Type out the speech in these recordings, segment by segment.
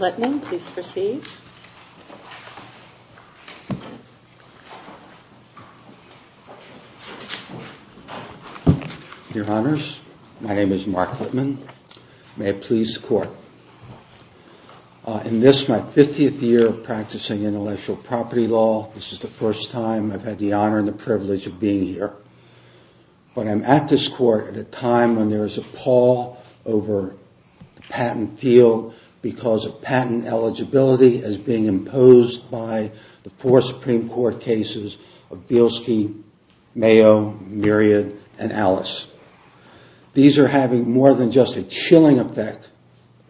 Littman, please proceed. Your Honors, my name is Mark Littman. May I please court? In this, my 50th year of practicing intellectual property law, this is the first time I've had the honor and the privilege of being here. But I'm at this court at a time when there is a pall over the patent field because of patent eligibility as being imposed by the four Supreme Court cases of Bielski, Mayo, Myriad, and Alice. These are having more than just a chilling effect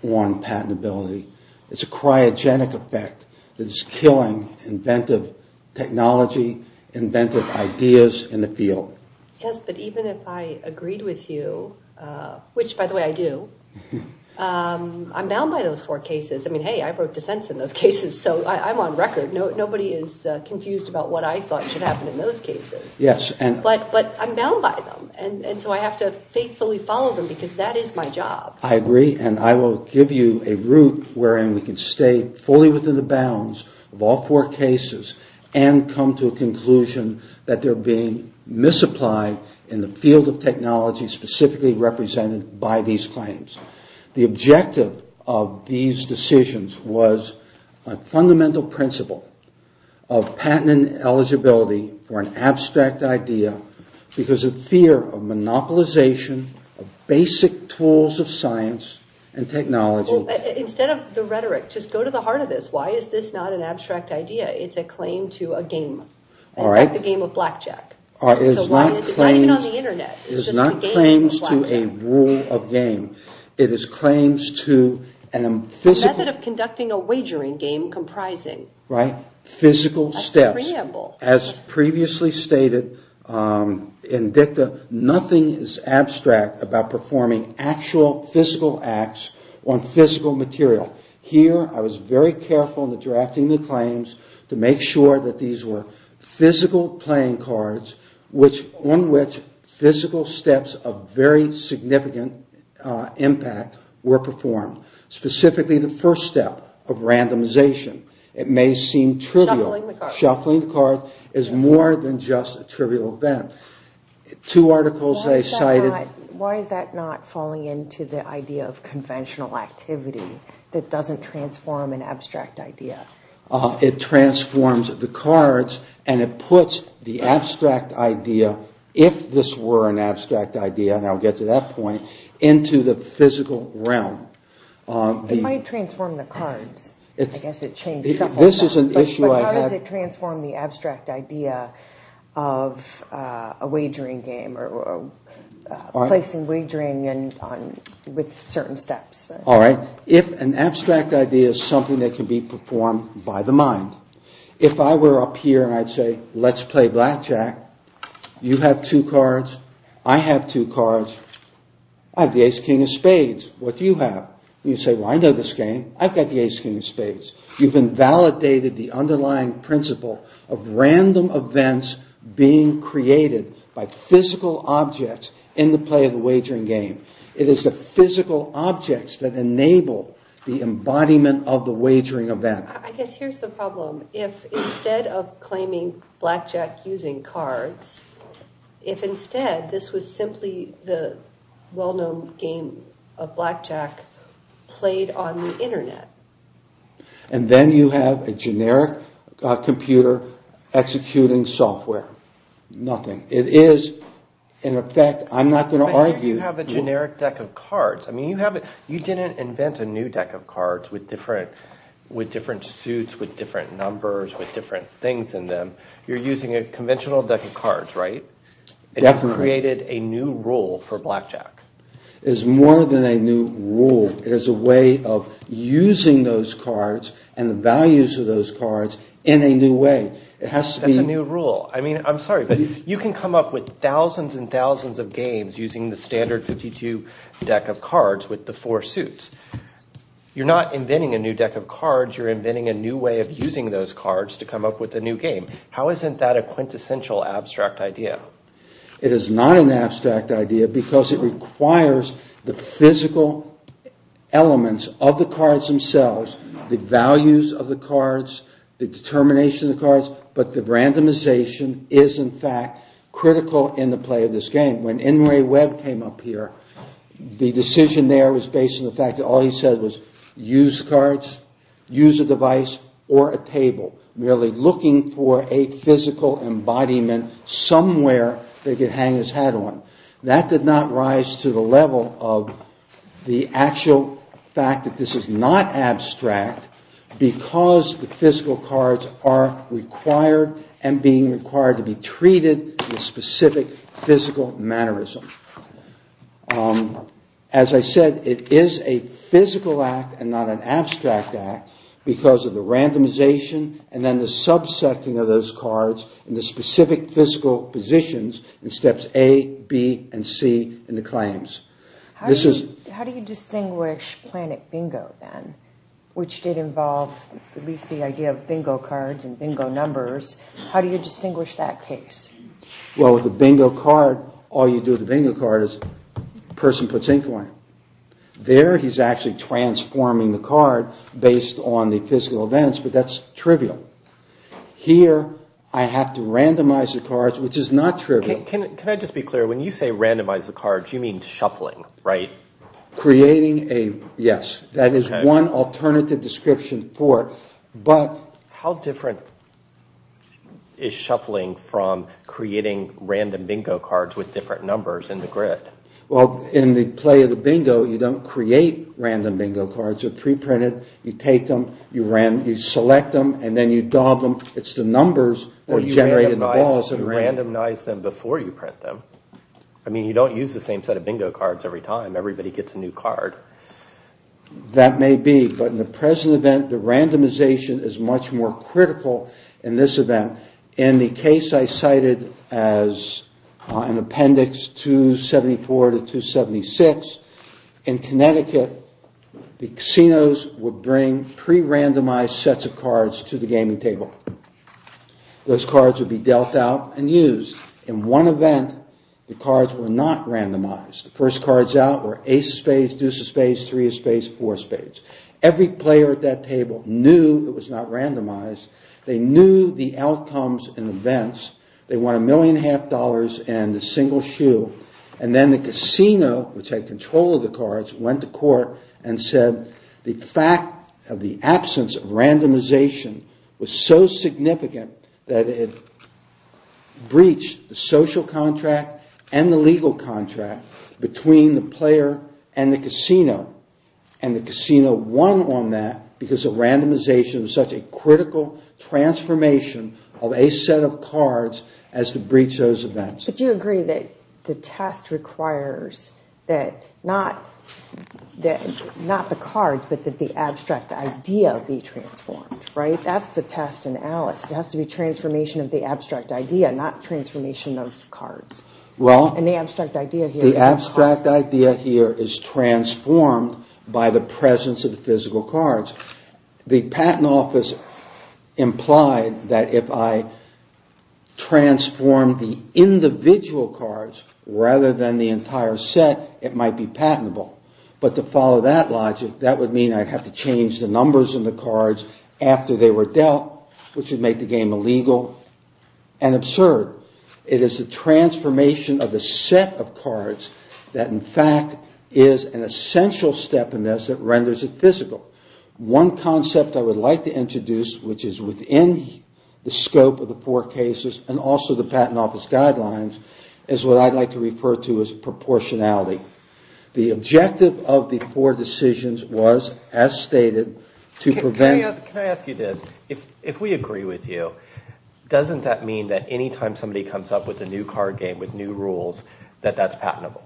on patentability. It's a cryogenic effect that is killing inventive technology, inventive ideas in the field. Yes, but even if I agreed with you, which by the way I do, I'm bound by those four cases. I mean, hey, I wrote dissents in those cases, so I'm on record. Nobody is confused about what I thought should happen in those cases. Yes. But I'm bound by them, and so I have to faithfully follow them because that is my job. I agree, and I will give you a route where we can stay fully within the bounds of all four cases and come to a conclusion that they're being misapplied in the field of technology specifically represented by these claims. The objective of these decisions was a fundamental principle of patent eligibility for an abstract idea because of fear of monopolization of basic tools of science and technology. Well, instead of the rhetoric, just go to the heart of this. Why is this not an abstract idea? It's a claim to a game. All right. Like the game of blackjack. Not even on the internet. It is not claims to a rule of game. It is claims to a physical... A method of conducting a wagering game comprising... Right. ...a preamble. Physical steps. As previously stated in DICA, nothing is abstract about performing actual physical acts on physical material. Here, I was very careful in the drafting of the claims to make sure that these were physical playing cards on which physical steps of very significant impact were performed. Specifically, the first step of randomization. It may seem trivial. Shuffling the cards. Shuffling the cards is more than just a trivial event. Two articles I cited... It doesn't transform an abstract idea. It transforms the cards and it puts the abstract idea, if this were an abstract idea, and I'll get to that point, into the physical realm. It might transform the cards. I guess it changes the whole thing. This is an issue I have... But how does it transform the abstract idea of a wagering game or placing wagering with certain steps? If an abstract idea is something that can be performed by the mind, if I were up here and I'd say, let's play blackjack. You have two cards. I have two cards. I have the ace, king of spades. What do you have? You say, well, I know this game. I've got the ace, king of spades. You've invalidated the underlying principle of random events being created by physical objects in the play of the wagering game. It is the physical objects that enable the embodiment of the wagering event. I guess here's the problem. If instead of claiming blackjack using cards, if instead this was simply the well-known game of blackjack played on the internet... And then you have a generic computer executing software. Nothing. It is, in effect, I'm not going to argue... It is a generic deck of cards. You didn't invent a new deck of cards with different suits, with different numbers, with different things in them. You're using a conventional deck of cards, right? It created a new rule for blackjack. It is more than a new rule. It is a way of using those cards and the values of those cards in a new way. It has to be... It's a new rule. I'm sorry, but you can come up with thousands and thousands of games using the standard 52 deck of cards with the four suits. You're not inventing a new deck of cards. You're inventing a new way of using those cards to come up with a new game. How isn't that a quintessential abstract idea? It is not an abstract idea because it requires the physical elements of the cards themselves... the values of the cards, the determination of the cards, but the randomization is, in fact, critical in the play of this game. When N. Ray Webb came up here, the decision there was based on the fact that all he said was use cards, use a device or a table. Really looking for a physical embodiment somewhere that he could hang his hat on. That did not rise to the level of the actual fact that this is not abstract because the physical cards are required and being required to be treated with specific physical mannerism. As I said, it is a physical act and not an abstract act because of the randomization and then the subsetting of those cards in the specific physical positions in steps A, B, and C. How do you distinguish planet bingo then, which did involve at least the idea of bingo cards and bingo numbers? How do you distinguish that case? With a bingo card, all you do with a bingo card is a person puts in coin. There, he's actually transforming the card based on the physical events, but that's trivial. Here, I have to randomize the cards, which is not trivial. When you say randomize the cards, you mean shuffling, right? Yes, that is one alternative description. How different is shuffling from creating random bingo cards with different numbers in the grid? In the play of the bingo, you don't create random bingo cards. You pre-print it, you take them, you select them, and then you dob them. It's the numbers that are generated in the balls. You randomize them before you print them. You don't use the same set of bingo cards every time. Everybody gets a new card. That may be, but in the present event, the randomization is much more critical in this event. In the case I cited as an appendix 274 to 276, in Connecticut, the casinos would bring pre-randomized sets of cards to the gaming table. Those cards would be dealt out and used. In one event, the cards were not randomized. The first cards out were ace of spades, deuce of spades, three of spades, four of spades. Every player at that table knew it was not randomized. They knew the outcomes and events. They won a million and a half dollars and a single shoe. And then the casino, which had control of the cards, went to court and said, the fact of the absence of randomization was so significant that it breached the social contract and the legal contract between the player and the casino. And the casino won on that because the randomization was such a critical transformation of a set of cards as to breach those events. But you agree that the test requires that not the cards, but that the abstract idea be transformed, right? That's the test in Alice. It has to be transformation of the abstract idea, not transformation of cards. The abstract idea here is transformed by the presence of the physical cards. The patent office implied that if I transformed the individual cards rather than the entire set, it might be patentable. But to follow that logic, that would mean I would have to change the numbers in the cards after they were dealt, which would make the game illegal and absurd. It is the transformation of the set of cards that in fact is an essential step in this that renders it physical. One concept I would like to introduce, which is within the scope of the four cases and also the patent office guidelines, is what I'd like to refer to as proportionality. The objective of the four decisions was, as stated, to prevent... Can I ask you this? If we agree with you, doesn't that mean that any time somebody comes up with a new card game, with new rules, that that's patentable?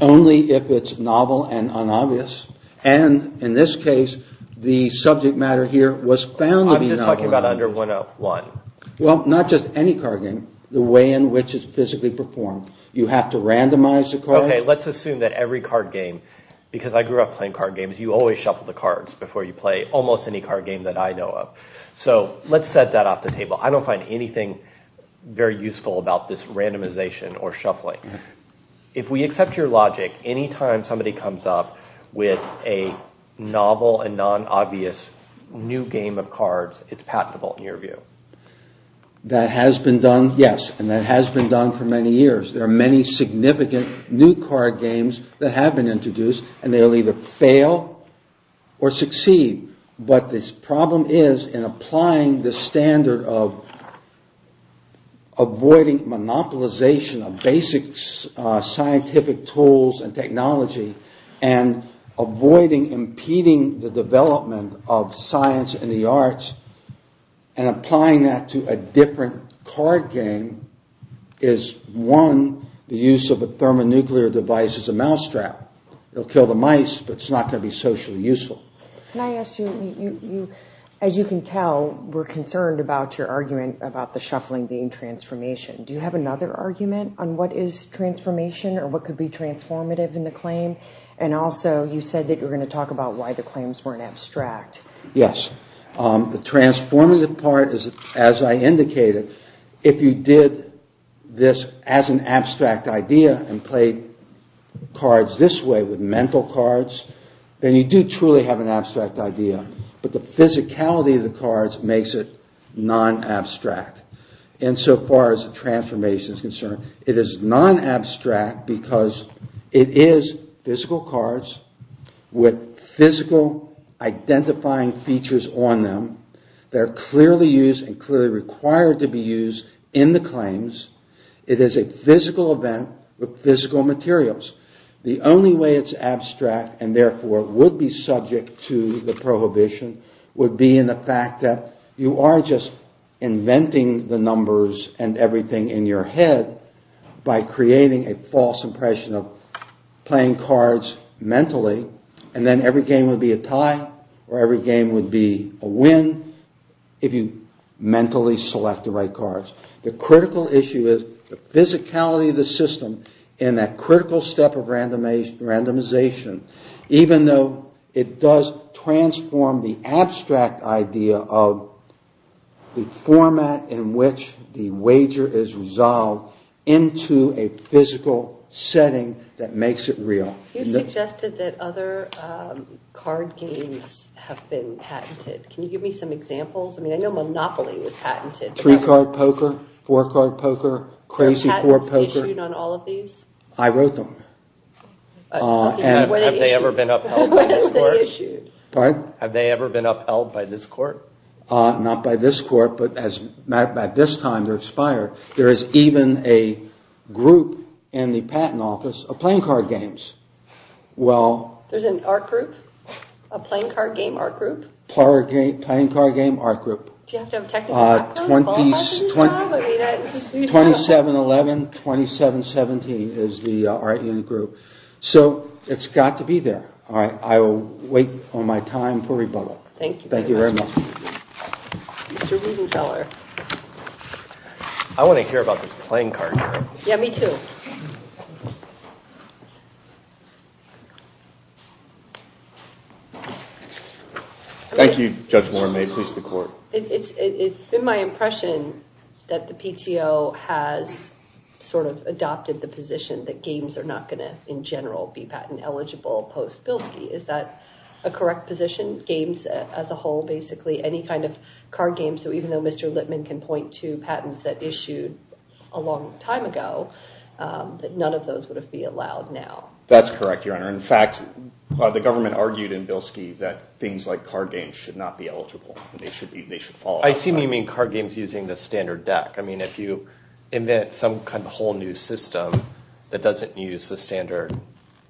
Only if it's novel and unobvious. And in this case, the subject matter here was found to be novel. I'm just talking about under 101. Well, not just any card game. The way in which it's physically performed. You have to randomize the cards. Okay, let's assume that every card game, because I grew up playing card games, you always shuffle the cards before you play almost any card game that I know of. So, let's set that off the table. I don't find anything very useful about this randomization or shuffling. If we accept your logic, any time somebody comes up with a novel and non-obvious new game of cards, it's patentable in your view. That has been done, yes. And that has been done for many years. There are many significant new card games that have been introduced, and they'll either fail or succeed. But the problem is, in applying the standard of avoiding monopolization of basic scientific tools and technology, and avoiding impeding the development of science and the arts, and applying that to a different card game, is one. The use of a thermonuclear device is a mousetrap. It'll kill the mice, but it's not going to be socially useful. Can I ask you, as you can tell, we're concerned about your argument about the shuffling being transformation. Do you have another argument on what is transformation or what could be transformative in the claim? And also, you said that you were going to talk about why the claims weren't abstract. Yes. The transformative part is, as I indicated, if you did this as an abstract idea and played cards this way with mental cards, then you do truly have an abstract idea. But the physicality of the cards makes it non-abstract. And so far as transformation is concerned, it is non-abstract because it is physical cards with physical identifying features on them. They're clearly used and clearly required to be used in the claims. It is a physical event with physical materials. The only way it's abstract and therefore would be subject to the prohibition, would be in the fact that you are just inventing the numbers and everything in your head by creating a false impression of playing cards mentally. And then every game would be a tie, or every game would be a win, if you mentally select the right cards. The critical issue is the physicality of the system in that critical step of randomization, even though it does transform the abstract idea of the format in which the wager is resolved into a physical setting that makes it real. You suggested that other card games have been patented. Can you give me some examples? I mean, I know Monopoly was patented. Three card poker, four card poker, crazy four poker. Have patents been issued on all of these? I wrote them. Have they ever been upheld by this court? Not by this court, but by this time they're expired. There is even a group in the patent office of playing card games. There's an art group, a playing card game art group. Do you have to have a technical background to qualify for this job? 2711, 2717 is the art unit group. So it's got to be there. I will wait on my time for rebuttal. Thank you very much. I want to hear about this playing card game. Yeah, me too. Thank you, Judge Warren. May it please the court. It's been my impression that the PTO has sort of adopted the position that games are not going to, in general, be patent eligible post-Bilski. Is that a correct position? Games as a whole, basically any kind of card game? So even though Mr. Lipman can point to patents that issued a long time ago, that none of those would be allowed now. That's correct, Your Honor. In fact, the government argued in Bilski that things like card games should not be eligible. They should be. They should follow. I assume you mean card games using the standard deck. I mean, if you invent some kind of whole new system that doesn't use the standard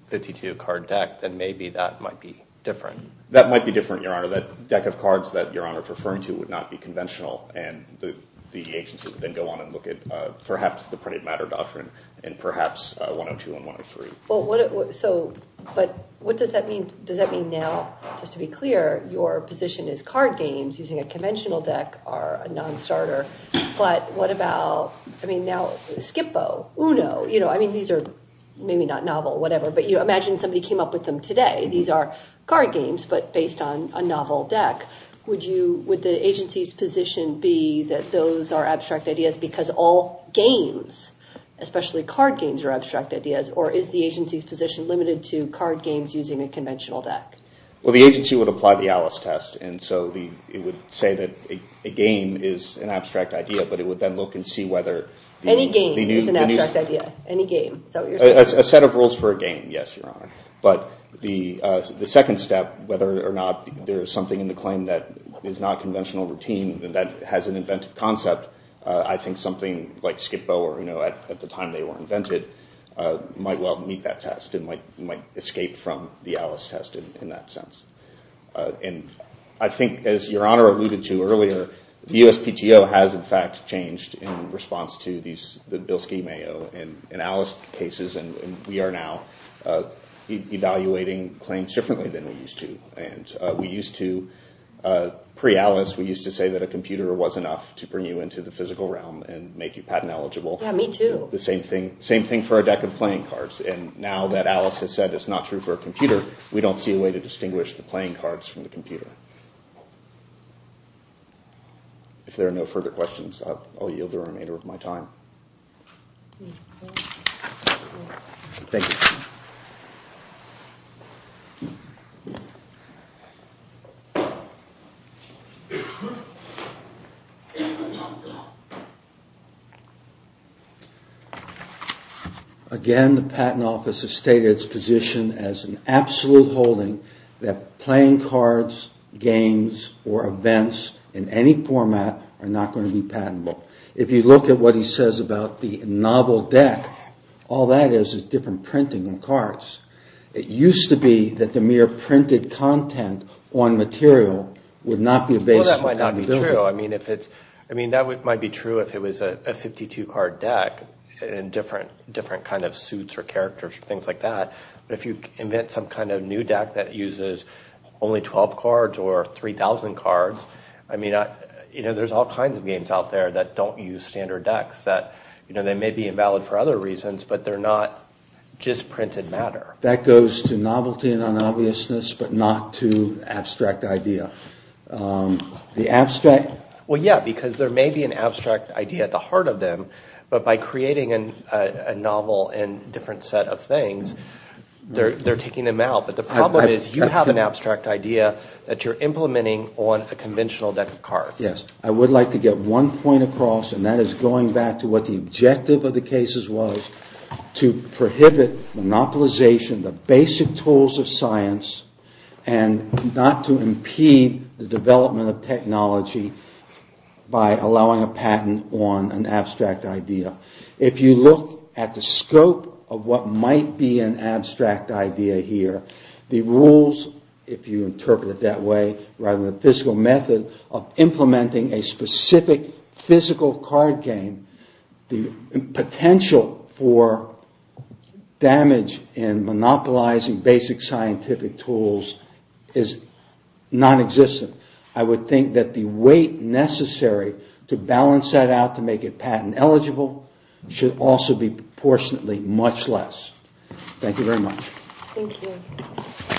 52 card deck, then maybe that might be different. That might be different, Your Honor. That deck of cards that Your Honor is referring to would not be conventional. And the agency would then go on and look at perhaps the printed matter doctrine and perhaps 102 and 103. But what does that mean? Does that mean now, just to be clear, your position is card games using a conventional deck are a non-starter. But what about, I mean, now Skipbo, Uno, you know, I mean, these are maybe not novel or whatever, but you imagine somebody came up with them today. These are card games, but based on a novel deck. Would the agency's position be that those are abstract ideas because all games, especially card games, are abstract ideas? Or is the agency's position limited to card games using a conventional deck? Well, the agency would apply the Alice test. And so it would say that a game is an abstract idea, but it would then look and see whether... Any game is an abstract idea. Any game. A set of rules for a game, yes, Your Honor. But the second step, whether or not there is something in the claim that is not conventional routine that has an inventive concept, I think something like Skipbo or Uno, at the time they were invented, might well meet that test and might escape from the Alice test in that sense. And I think, as Your Honor alluded to earlier, the USPTO has in fact changed in response to the Bilski-Mayo and Alice cases, and we are now evaluating claims differently than we used to. And we used to, pre-Alice, we used to say that a computer was enough to bring you into the physical realm and make you patent eligible. Yeah, me too. The same thing for a deck of playing cards. And now that Alice has said it's not true for a computer, we don't see a way to distinguish the playing cards from the computer. If there are no further questions, I'll yield the remainder of my time. Thank you. Again, the Patent Office has stated its position as an absolute holding that playing cards, games, or events in any format are not going to be patentable. If you look at what he says about the novel deck, all that is is different printing on cards. It used to be that the mere printed content on material would not be a basis for patentability. I mean, that might be true if it was a 52-card deck and different kind of suits or characters or things like that. But if you invent some kind of new deck that uses only 12 cards or 3,000 cards, there's all kinds of games out there that don't use standard decks. They may be invalid for other reasons, but they're not just printed matter. That goes to novelty and unobviousness, but not to abstract idea. Well, yeah, because there may be an abstract idea at the heart of them, but by creating a novel and different set of things, they're taking them out. But the problem is you have an abstract idea that you're implementing on a conventional deck of cards. I would like to get one point across, and that is going back to what the objective of the cases was, to prohibit monopolization of basic tools of science and not to impede the development of technology by allowing a patent on an abstract idea. If you look at the scope of what might be an abstract idea here, the rules, if you interpret it that way, rather than the physical method of implementing a specific physical card game, the potential for damage in monopolizing basic scientific tools is nonexistent. I would think that the weight necessary to balance that out to make it patent eligible should also be proportionately much less. Thank you very much.